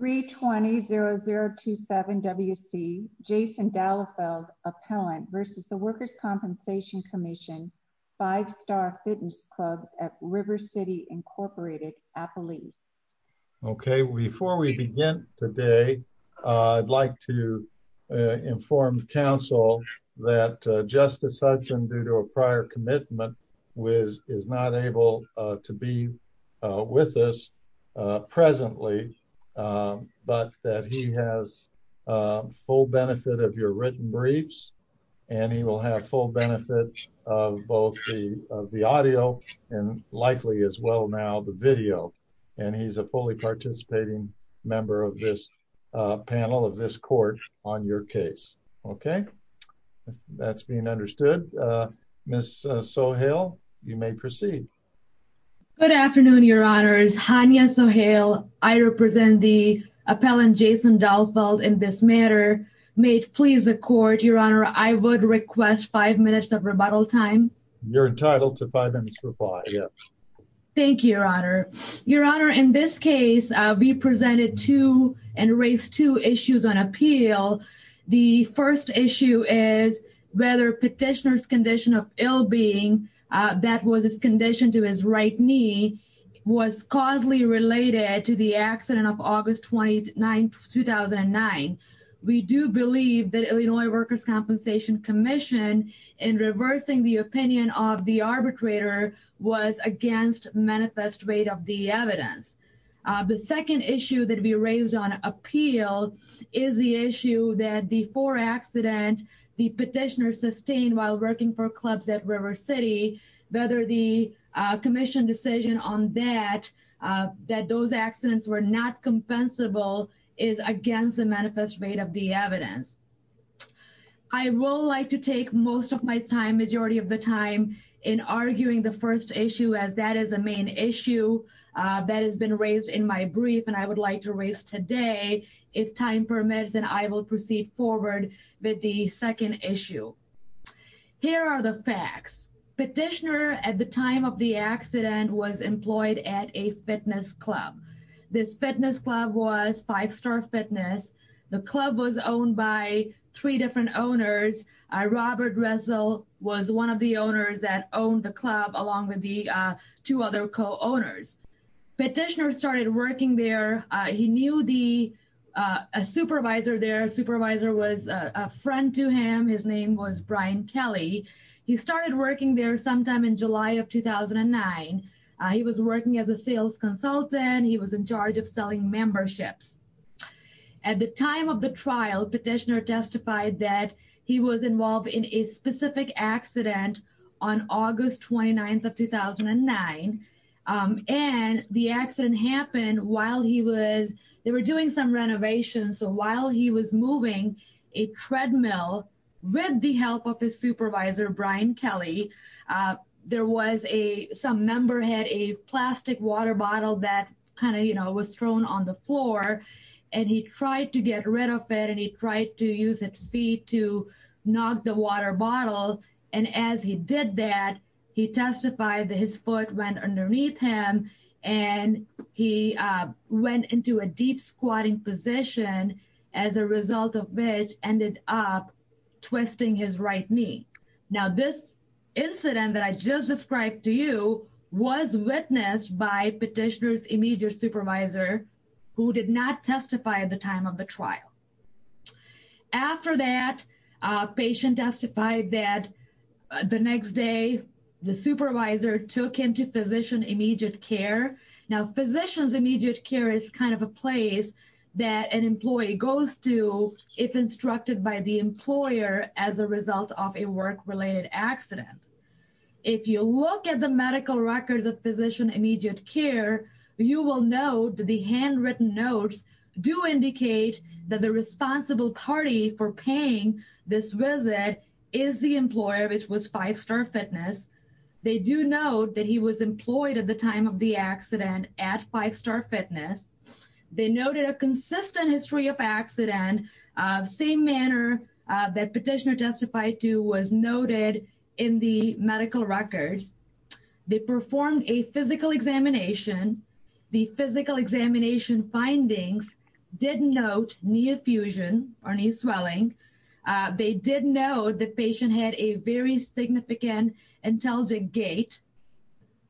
320-0027-WC Jason Dallefield, appellant versus the Workers' Compensation Commission, five-star fitness clubs at River City, Incorporated, Appalachia. Okay, before we begin today, I'd like to inform the council that Justice Hudson, due to a prior commitment, is not able to be with us presently, but that he has full benefit of your written briefs, and he will have full benefit of both the audio and likely as well now the video. And he's a fully participating member of this panel of this court on your case. Okay, that's being understood. Ms. Sohail, you may proceed. Good afternoon, Your Honors. Hania Sohail. I represent the appellant Jason Dallefield in this matter. May it please the court, Your Honor, I would request five minutes of rebuttal time. You're entitled to five minutes to reply, yes. Thank you, Your Honor. Your Honor, in this case, we presented two and raised two issues on appeal. The first issue is whether petitioner's condition of ill-being that was his condition to his right knee was causally related to the accident of August 29, 2009. We do believe that Illinois Workers Compensation Commission in reversing the opinion of the arbitrator was against manifest rate of the evidence. The second issue that we raised on appeal is the issue that before accident, the petitioner sustained while working for clubs at River City, whether the commission decision on that, that those accidents were not compensable is against the manifest rate of the evidence. I will like to take most of my time, majority of the time, in arguing the first issue as that is the main issue that has been raised in my brief and I would like to raise today. If time permits, then I will proceed forward with the second issue. Here are the facts. Petitioner at the time of the accident was employed at a fitness club. This fitness club was Five Star Fitness. The club was owned by three different owners. Robert Ressel was one of the owners that owned the club along with the two other co-owners. Petitioner started working there. He knew the supervisor there. Supervisor was a friend to him. His name was Brian Kelly. He started working there sometime in July of 2009. He was working as a sales consultant. He was in charge of selling memberships. At the time of the trial, petitioner testified that he was involved in a specific accident on August 29th of 2009 and the accident happened while he was, they were doing some renovations. So while he was moving a treadmill with the help of his supervisor, Brian Kelly, there was a, some member had a plastic water bottle that kind of, you know, was thrown on the floor and he tried to get rid of it and he tried to use his feet to knock the water bottle and as he did that, he testified that his foot went underneath him and he went into a deep squatting position as a result of which ended up twisting his right knee. Now this incident that I just described to you was witnessed by petitioner's immediate supervisor who did not testify at the time of the trial. After that, patient testified that the next day the supervisor took him to Now physician's immediate care is kind of a place that an employee goes to if instructed by the employer as a result of a work-related accident. If you look at the medical records of physician immediate care, you will note that the handwritten notes do indicate that the responsible party for paying this visit is the employer which was Five Star Fitness. They do note that he was employed at the time of the accident at Five Star Fitness. They noted a consistent history of accident of same manner that petitioner testified to was noted in the medical records. They performed a physical examination. The physical examination findings did note knee effusion or knee swelling. They did note the patient had a very significant intelligent gait.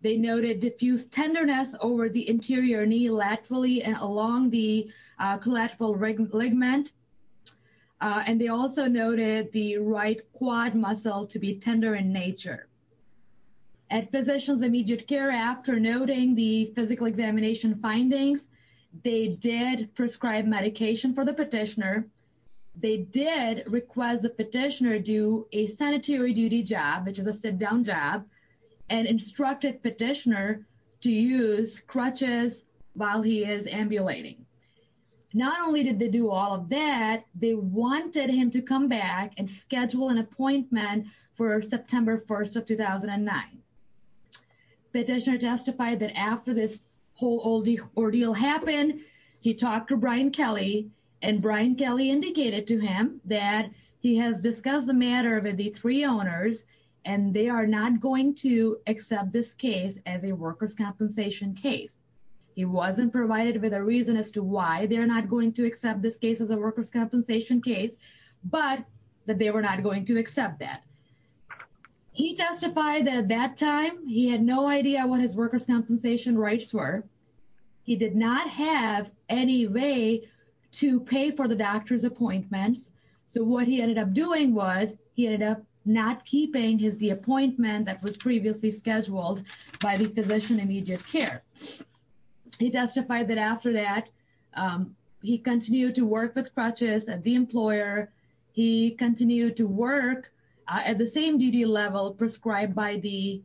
They noted diffused tenderness over the interior knee laterally and along the collateral ligament and they also noted the right quad muscle to be tender in nature. At physician's immediate care after noting the request the petitioner do a sanitary duty job which is a sit-down job and instructed petitioner to use crutches while he is ambulating. Not only did they do all of that, they wanted him to come back and schedule an appointment for September 1st of 2009. Petitioner testified that after this whole ordeal happened he talked to Brian Kelly and Brian Kelly indicated to him that he has discussed the matter with the three owners and they are not going to accept this case as a workers compensation case. He wasn't provided with a reason as to why they're not going to accept this case as a workers compensation case but that they were not going to accept that. He testified that at that time he had no idea what his workers compensation rights were. He did not have any way to pay for the doctor's appointments so what he ended up doing was he ended up not keeping his the appointment that was previously scheduled by the physician immediate care. He testified that after that he continued to work with crutches at the employer. He continued to work at the same duty level prescribed by the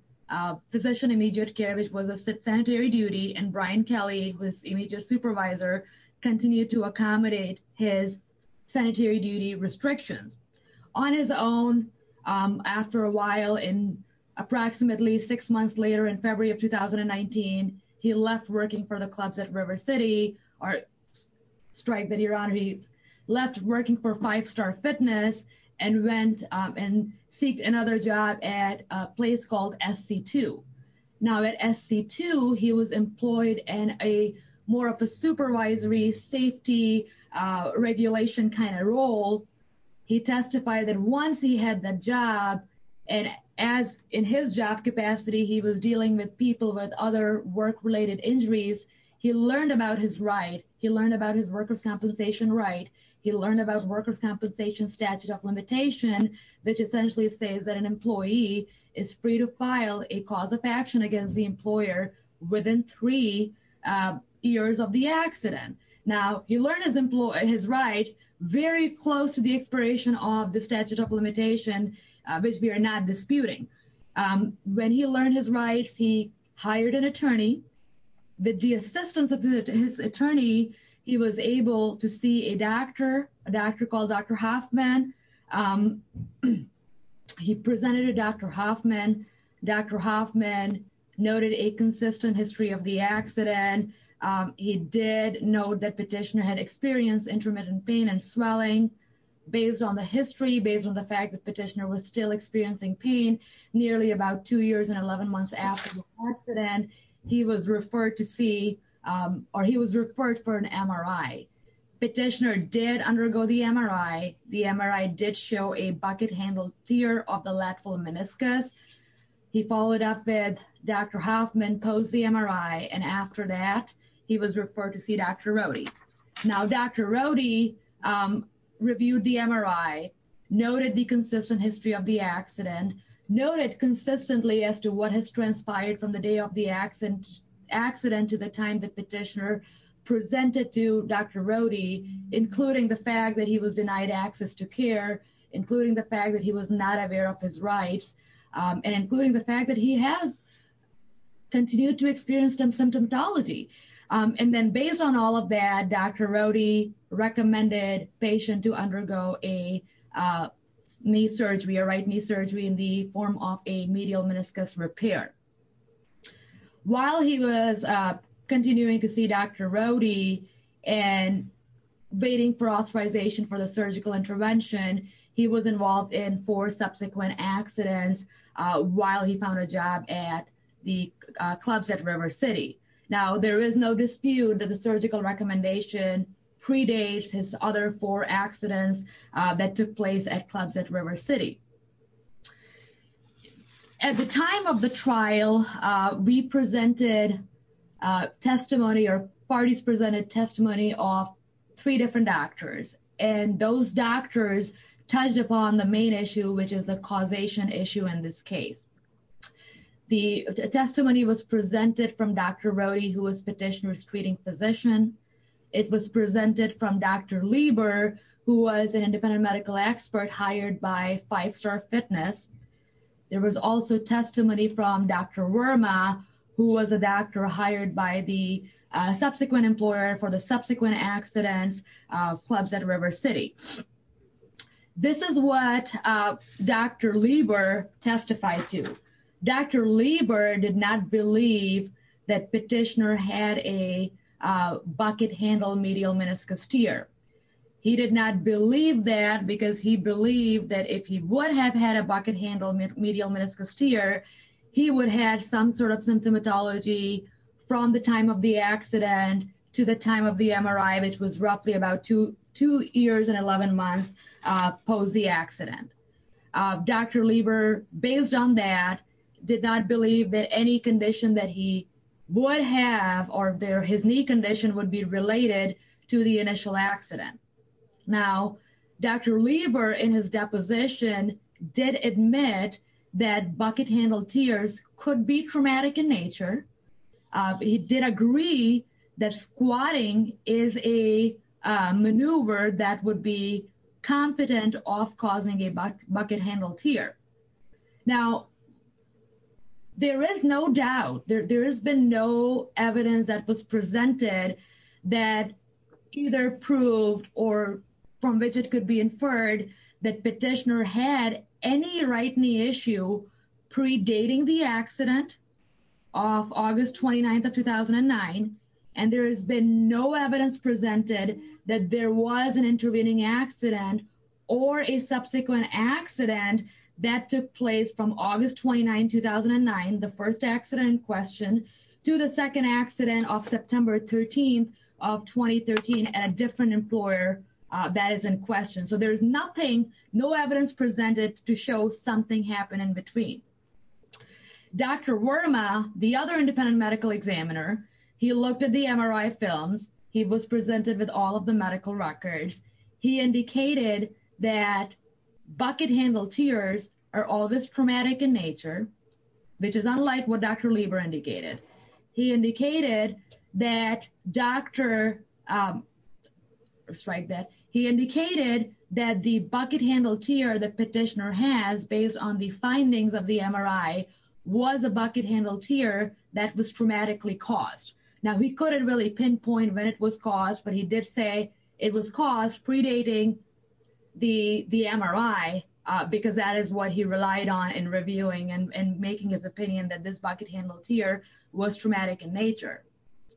physician immediate care which was a sanitary duty and Brian Kelly was immediate supervisor continued to accommodate his sanitary duty restrictions. On his own after a while in approximately six months later in February of 2019 he left working for the clubs at River City or strike that you're on he left working for five fitness and went and seek another job at a place called SC2. Now at SC2 he was employed in a more of a supervisory safety regulation kind of role. He testified that once he had the job and as in his job capacity he was dealing with people with other work-related injuries he learned about his he learned about his workers compensation right he learned about workers compensation statute of limitation which essentially says that an employee is free to file a cause of action against the employer within three years of the accident. Now he learned his employee his right very close to the expiration of the statute of limitation which we are not disputing. When he learned his rights he hired an attorney with the assistance of his attorney he was able to see a doctor a doctor called Dr. Hoffman. He presented to Dr. Hoffman. Dr. Hoffman noted a consistent history of the accident. He did note that petitioner had experienced intermittent pain and swelling based on the history based on the fact that petitioner was still experiencing pain nearly about two years and 11 months after the accident he was referred to see or he was referred for an MRI. Petitioner did undergo the MRI. The MRI did show a bucket-handled tear of the lateral meniscus. He followed up with Dr. Hoffman posed the MRI and after that he was referred to see Dr. Rodi reviewed the MRI noted the consistent history of the accident noted consistently as to what has transpired from the day of the accident accident to the time the petitioner presented to Dr. Rodi including the fact that he was denied access to care including the fact that he was not aware of his rights and including the fact that he has continued to experience some symptomatology and then based on all of that Dr. Rodi recommended patient to undergo a knee surgery a right knee surgery in the form of a medial meniscus repair. While he was continuing to see Dr. Rodi and waiting for authorization for the surgical intervention he was involved in four subsequent accidents while he found a job at the clubs at River City. Now there is no dispute that the surgical recommendation predates his other four accidents that took place at clubs at River City. At the time of the trial we presented testimony or parties presented testimony of three different doctors and those doctors touched upon the main issue which is the causation issue in this case. The testimony was presented from Dr. Rodi who was petitioner's treating physician it was presented from Dr. Lieber who was an independent medical expert hired by Five Star Fitness. There was also testimony from Dr. Werma who was a doctor hired by the subsequent employer for the subsequent accidents clubs at River City. This is what Dr. Lieber testified to. Dr. Lieber did not believe that petitioner had a bucket handle medial meniscus tear. He did not believe that because he believed that if he would have had a bucket handle medial meniscus tear he would have had some sort of symptomatology from the time of the accident to the time of the MRI which was roughly about two years and 11 months post the accident. Dr. Lieber based on that did not believe that any condition that he would have or their his knee condition would be related to the initial accident. Now Dr. Lieber in his deposition did admit that bucket handle tears could be traumatic in nature. He did agree that squatting is a maneuver that would be competent of causing a bucket handle tear. Now there is no doubt there has been no evidence that was presented that either proved or from which it could be inferred that petitioner had any right knee issue predating the accident of August 29th of 2009 and there has been no evidence presented that there was an intervening accident or a subsequent accident that took place from August 29 2009 the first accident in question to the second accident of September 13th of 2013 at a different employer that is in question. So there's nothing no evidence presented to show something happened in between. Dr. Worma the other independent medical examiner he looked at the MRI films he was presented with all of the medical records. He indicated that bucket handle tears are always traumatic in nature which is unlike what Dr. Lieber indicated. He indicated that Dr. Worma indicated that the bucket handle tear the petitioner has based on the findings of the MRI was a bucket handle tear that was traumatically caused. Now he couldn't really pinpoint when it was caused but he did say it was caused predating the MRI because that is what he relied on in reviewing and making his opinion that this bucket handle tear was traumatic in nature.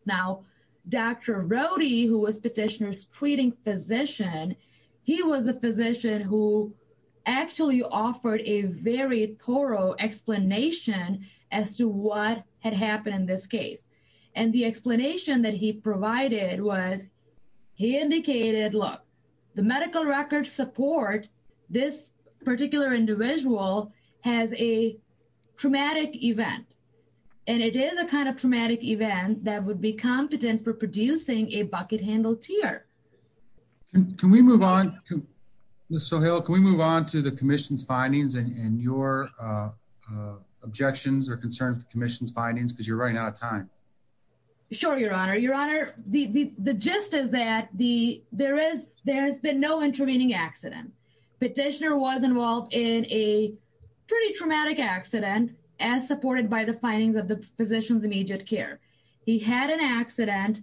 Now Dr. Rohde who was petitioner's treating physician he was a physician who actually offered a very thorough explanation as to what had happened in this case and the explanation that he provided was he indicated look the medical records support this particular individual has a traumatic event and it is a kind of traumatic event that would be competent for producing a bucket handle tear. Can we move on Ms. Sohail can we move on to the commission's findings and your objections or concerns the commission's findings because you're running out of time. Sure your honor your honor the the gist is that the there is there has been no intervening accident petitioner was involved in a pretty traumatic accident as supported by the findings of the physician's immediate care. He had an accident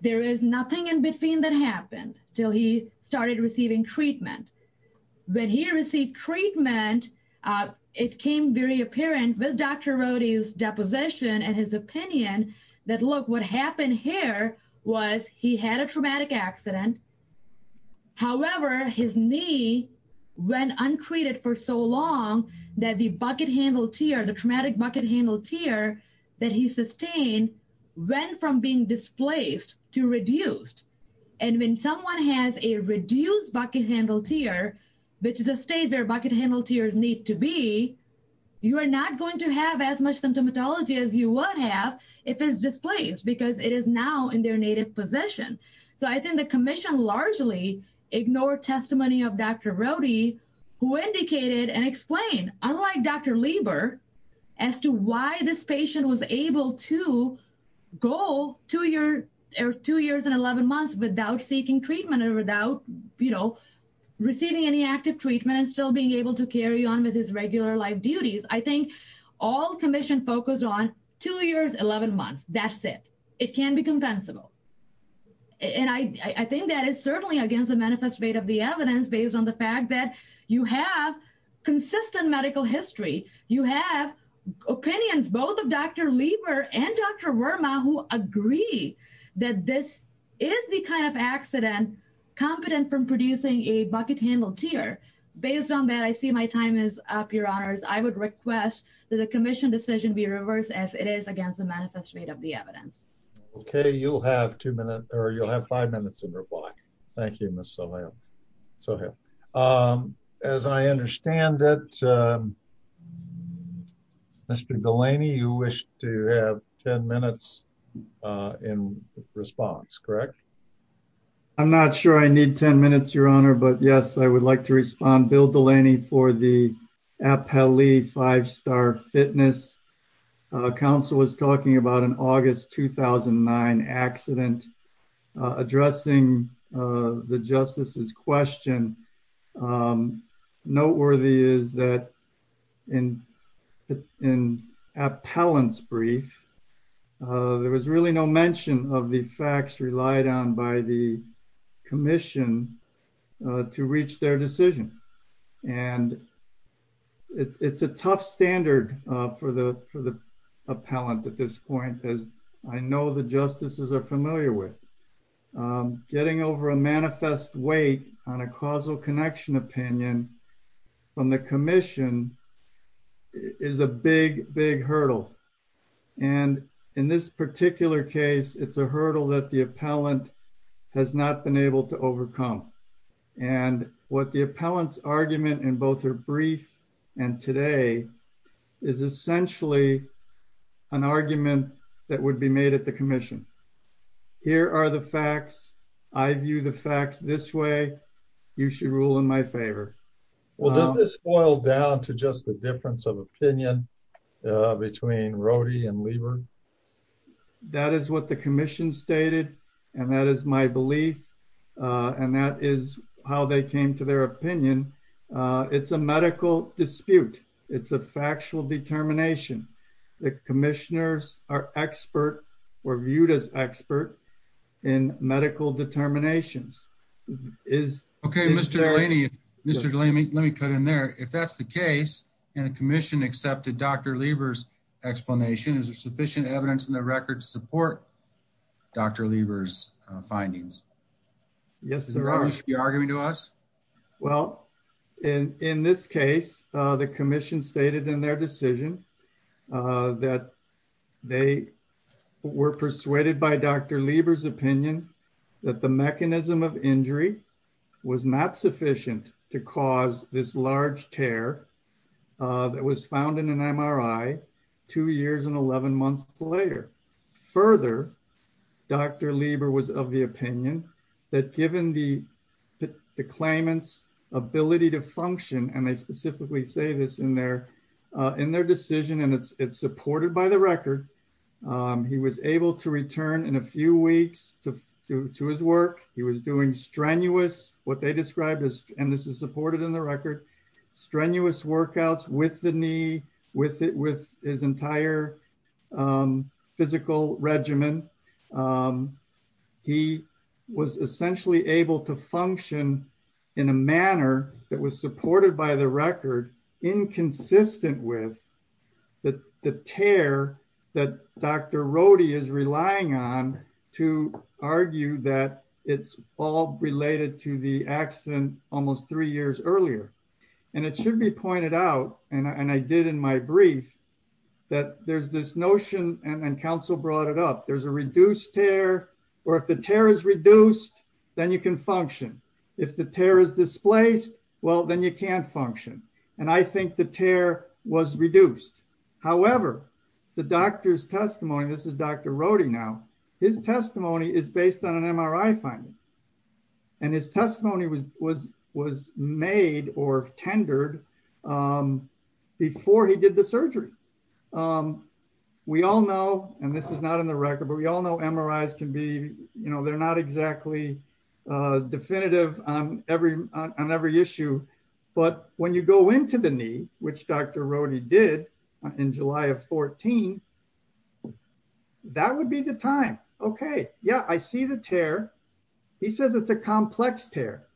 there is nothing in between that happened till he started receiving treatment. When he received treatment it came very apparent with Dr. Rohde's deposition and his opinion that look what happened here was he had a traumatic accident however his knee went untreated for so long that the bucket handle tear the traumatic bucket handle tear that he sustained went from being displaced to reduced and when someone has a reduced bucket handle tear which is a state where bucket handle tears need to be you are not going to have as much symptomatology as you would have if it's displaced because it is now in their native possession. So I think the commission largely ignored testimony of Dr. Rohde who indicated and explained unlike Dr. Lieber as to why this patient was able to go two years or two years and 11 months without seeking treatment or without you know receiving any active treatment and still being able to carry on with his regular life duties. I think all commission focused on two years 11 months that's it. It can't be compensable and I think that is certainly against the manifest rate of the evidence based on the fact that you have consistent medical history. You have opinions both of Dr. Lieber and Dr. Verma who agree that this is the kind of accident competent from producing a bucket handle tear. Based on that I see my time is up your honors. I would request that the commission decision be reversed as it is against the manifest rate of the evidence. Okay you'll have two minutes or you'll have five minutes in reply. Thank you Ms. Sohail. As I understand it Mr. Delaney you wish to have 10 minutes in response correct? I'm not sure I need 10 minutes your honor but yes I would like to respond Bill Delaney for the appellee five-star fitness. Council was talking about an August 2009 accident addressing the justice's question. Noteworthy is that in appellant's brief there was really no mention of the facts relied on by the commission to reach their decision and it's a tough standard for the for the appellant at this point as I know the justices are familiar with. Getting over a manifest weight on a causal connection opinion from the commission is a big big hurdle and in this particular case it's a hurdle that the appellant has not been able to overcome and what the appellant's argument in both her brief and today is essentially an argument that would be made at the commission. Here are the facts I view the facts this way you should rule in my favor. Well does this boil down to just the difference of opinion between Rody and Lieber? That is what the commission stated and that is my belief and that is how they came to their opinion. It's a medical dispute it's a factual determination. The commissioners are expert were viewed as expert in medical determinations. Okay Mr. Delaney let me cut in there if that's the case and the commission accepted Dr. Lieber's explanation is there sufficient evidence in the record to support Dr. Lieber's findings? Yes sir. Are you arguing to us? Well in in this case the commission stated in their decision that they were persuaded by Dr. Lieber's opinion that the mechanism of injury was not sufficient to cause this large tear that was found in an MRI two years and 11 months later. Further Dr. Lieber was of the opinion that given the the claimant's ability to function and they it's supported by the record he was able to return in a few weeks to to his work. He was doing strenuous what they described as and this is supported in the record strenuous workouts with the knee with it with his entire physical regimen. He was essentially able to function in a manner that was supported by the record inconsistent with the tear that Dr. Rohde is relying on to argue that it's all related to the accident almost three years earlier and it should be pointed out and I did in my brief that there's this notion and council brought it up there's a reduced tear or if the tear is reduced then you can function if the tear is displaced well then you can't function and I think the tear was reduced. However the doctor's testimony this is Dr. Rohde now his testimony is based on an MRI finding and his testimony was made or tendered before he did the surgery. We all know and this is not in the record but we all know MRIs can be you know they're not exactly definitive on every on every issue but when you go into the knee which Dr. Rohde did in July of 14 that would be the time okay yeah I see the tear he says it's a complex tear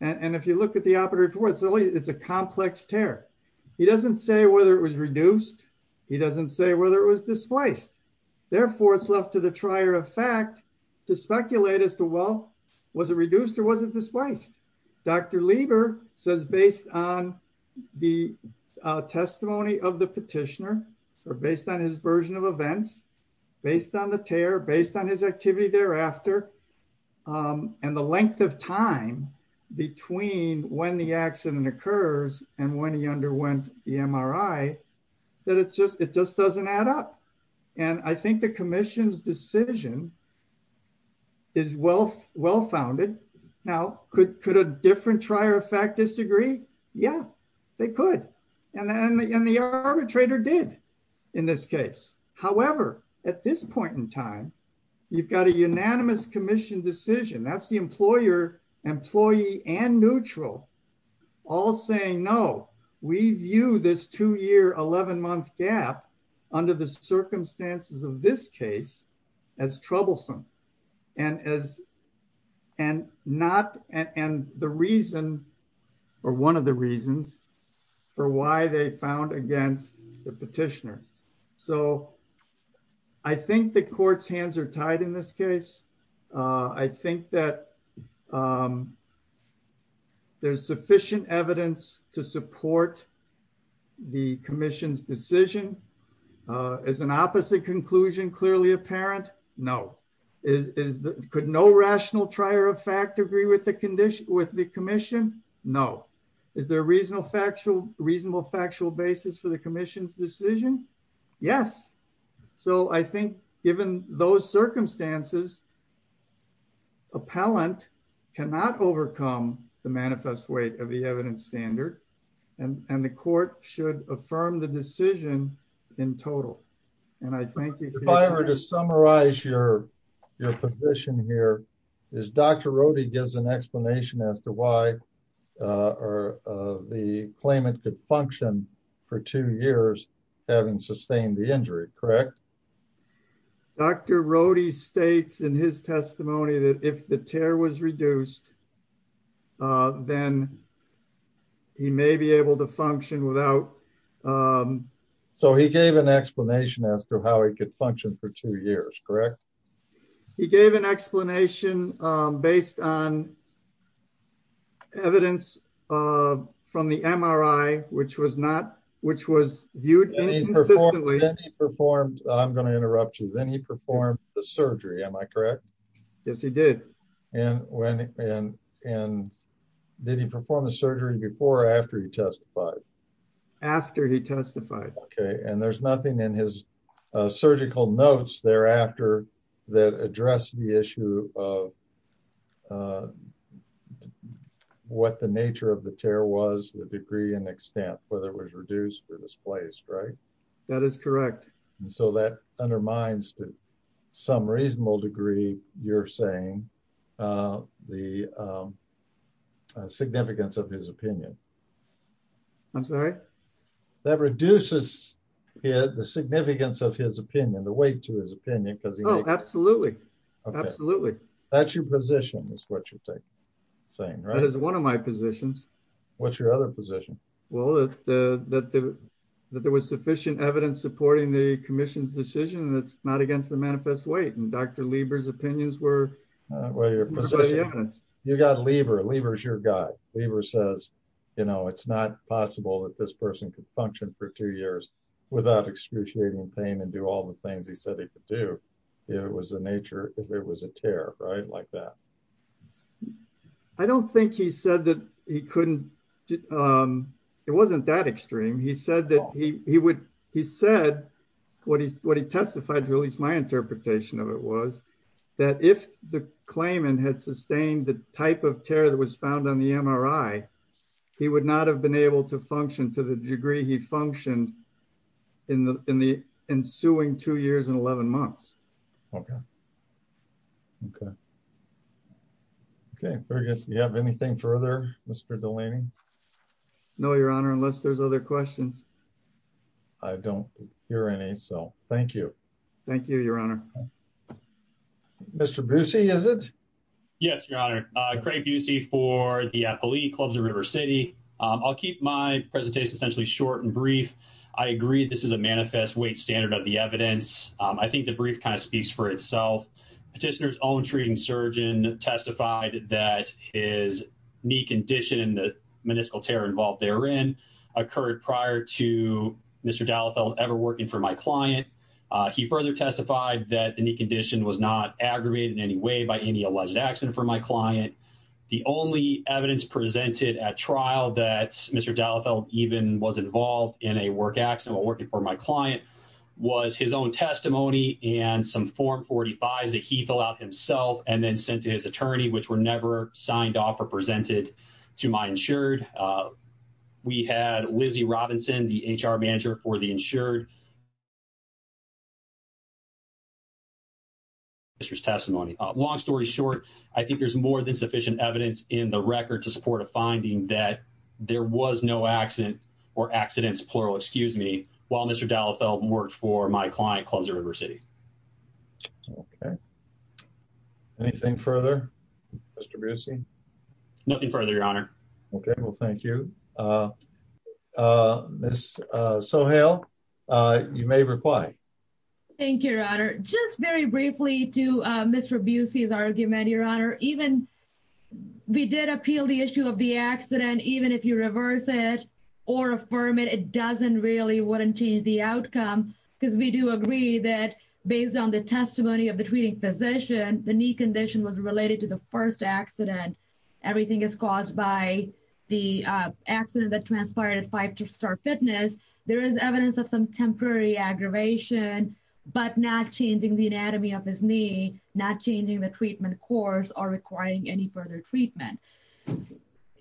and if you look at the operative reports it's a complex tear he doesn't say whether it was reduced he doesn't say whether it was displaced therefore it's left to the trier of fact to speculate as to well was it reduced or wasn't displaced. Dr. Lieber says based on the testimony of the petitioner or based on his version of events based on the tear based on his activity thereafter and the length of time between when the accident occurs and when he underwent the MRI that it's just it just doesn't add up and I think the commission's decision is well well-founded. Now could could a different effect disagree? Yeah they could and then the arbitrator did in this case however at this point in time you've got a unanimous commission decision that's the employer employee and neutral all saying no we view this two-year 11-month gap under the circumstances of this case as troublesome and as and not and the reason or one of the reasons for why they found against the petitioner so I think the court's hands are tied in this case I think that there's sufficient evidence to support the commission's decision as an opposite conclusion clearly apparent no is is the could no rational trier of fact agree with the condition with the commission no is there a reasonable factual reasonable factual basis for the commission's decision yes so I think given those circumstances appellant cannot overcome the manifest weight of and I think if I were to summarize your your position here is Dr. Rohde gives an explanation as to why or the claimant could function for two years having sustained the injury correct Dr. Rohde states in his testimony that if the tear was reduced then he may be able to function without so he gave an explanation as to how he could function for two years correct he gave an explanation based on evidence from the MRI which was not which was viewed performed I'm going to interrupt you then he performed the surgery am I correct yes he did and when and and did he perform the surgery before or after he testified after he testified okay and there's nothing in his surgical notes thereafter that address the issue of what the nature of the tear was the degree and extent whether it was reduced or displaced right that is correct and so that undermines to some reasonable degree you're saying the significance of his opinion I'm sorry that reduces the significance of his opinion the weight to his opinion because oh absolutely absolutely that's your position is what you're saying right it's one of my positions what's your other position well that that that there was sufficient evidence supporting the commission's decision that's not against the manifest weight and Dr. Lieber's opinions were well you're you got Lieber Lieber's your guy Lieber says you know it's not possible that this person could function for two years without excruciating pain and do all the things he said he could do it was the nature if it was a tear right like that I don't think he said that he couldn't it wasn't that extreme he said that he he would he said what he's what he testified to at least my interpretation of it was that if the claimant had sustained the type of tear that was found on the MRI he would not have been able to function to the degree he functioned in the in the ensuing two years and 11 months okay okay okay Fergus you have anything further Mr. Delaney no your honor unless there's other questions I don't hear any so thank you thank you your honor Mr. Busey is it yes your honor uh Craig Busey for the Appalachian Clubs of River City I'll keep my I think the brief kind of speaks for itself petitioner's own treating surgeon testified that his knee condition and the meniscal tear involved therein occurred prior to Mr. Dallefeld ever working for my client he further testified that the knee condition was not aggravated in any way by any alleged accident for my client the only evidence presented at trial that Mr. Dallefeld even was involved in a work accident while working for my client was his own testimony and some form 45s that he filled out himself and then sent to his attorney which were never signed off or presented to my insured we had Lizzie Robinson the HR manager for the insured Mr's testimony long story short I think there's more than sufficient evidence in the record to support a finding that there was no accident or accidents plural excuse me while Mr. Dallefeld worked for my client Clubs of River City okay anything further Mr. Busey nothing further your honor okay well thank you uh uh miss uh Sohail uh you may reply thank you your honor just very briefly to uh Mr. Busey's argument your honor even we did appeal the issue of the accident even if you reverse it or affirm it it doesn't really wouldn't change the outcome because we do agree that based on the testimony of the treating physician the knee condition was related to the first accident everything is caused by the uh accident that transpired at star fitness there is evidence of some temporary aggravation but not changing the anatomy of his knee not changing the treatment course or requiring any further treatment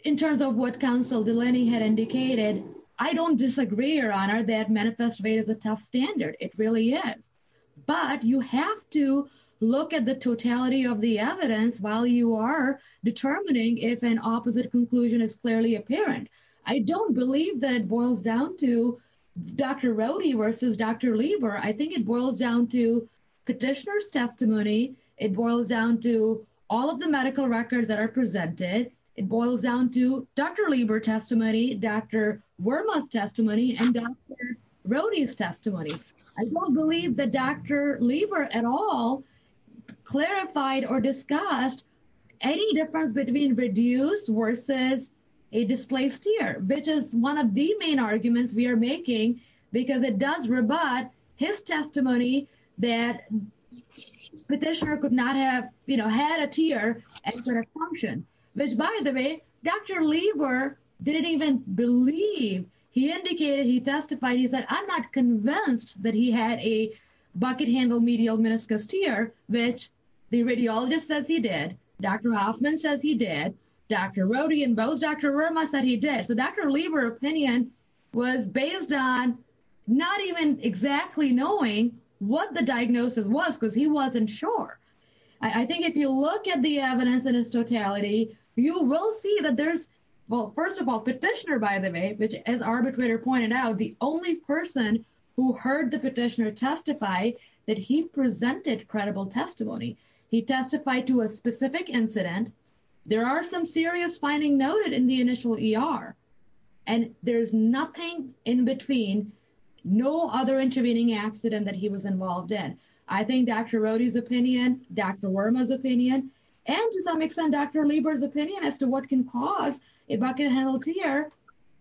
in terms of what counsel Delaney had indicated I don't disagree your honor that manifest rate is a tough standard it really is but you have to look at the totality of the evidence while you are to Dr. Rode versus Dr. Lieber I think it boils down to petitioner's testimony it boils down to all of the medical records that are presented it boils down to Dr. Lieber testimony Dr. Wormoth testimony and Dr. Rode's testimony I don't believe that Dr. Lieber at all clarified or discussed any difference between reduced versus a displaced ear which is one of the main arguments we are making because it does rebut his testimony that the petitioner could not have you know had a tear and could have functioned which by the way Dr. Lieber didn't even believe he indicated he testified he said I'm not convinced that he had a bucket handle medial meniscus tear which the radiologist says he did Dr. Hoffman says he did Dr. Rode and both Dr. Wormoth said he did Dr. Lieber opinion was based on not even exactly knowing what the diagnosis was because he wasn't sure I think if you look at the evidence in its totality you will see that there's well first of all petitioner by the way which as arbitrator pointed out the only person who heard the petitioner testify that he presented credible testimony he testified to a specific incident there are some serious findings noted in the initial ER and there's nothing in between no other intervening accident that he was involved in I think Dr. Rode's opinion Dr. Wormoth's opinion and to some extent Dr. Lieber's opinion as to what can cause a bucket handle tear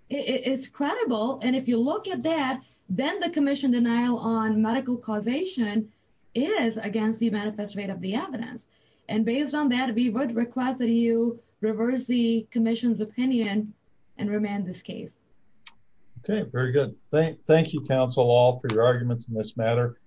is credible and if you look at that then the commission denial on medical causation is against the manifesto of the evidence and based on that we would request that you reverse the commission's opinion and remand this case okay very good thank you counsel all for your arguments in this matter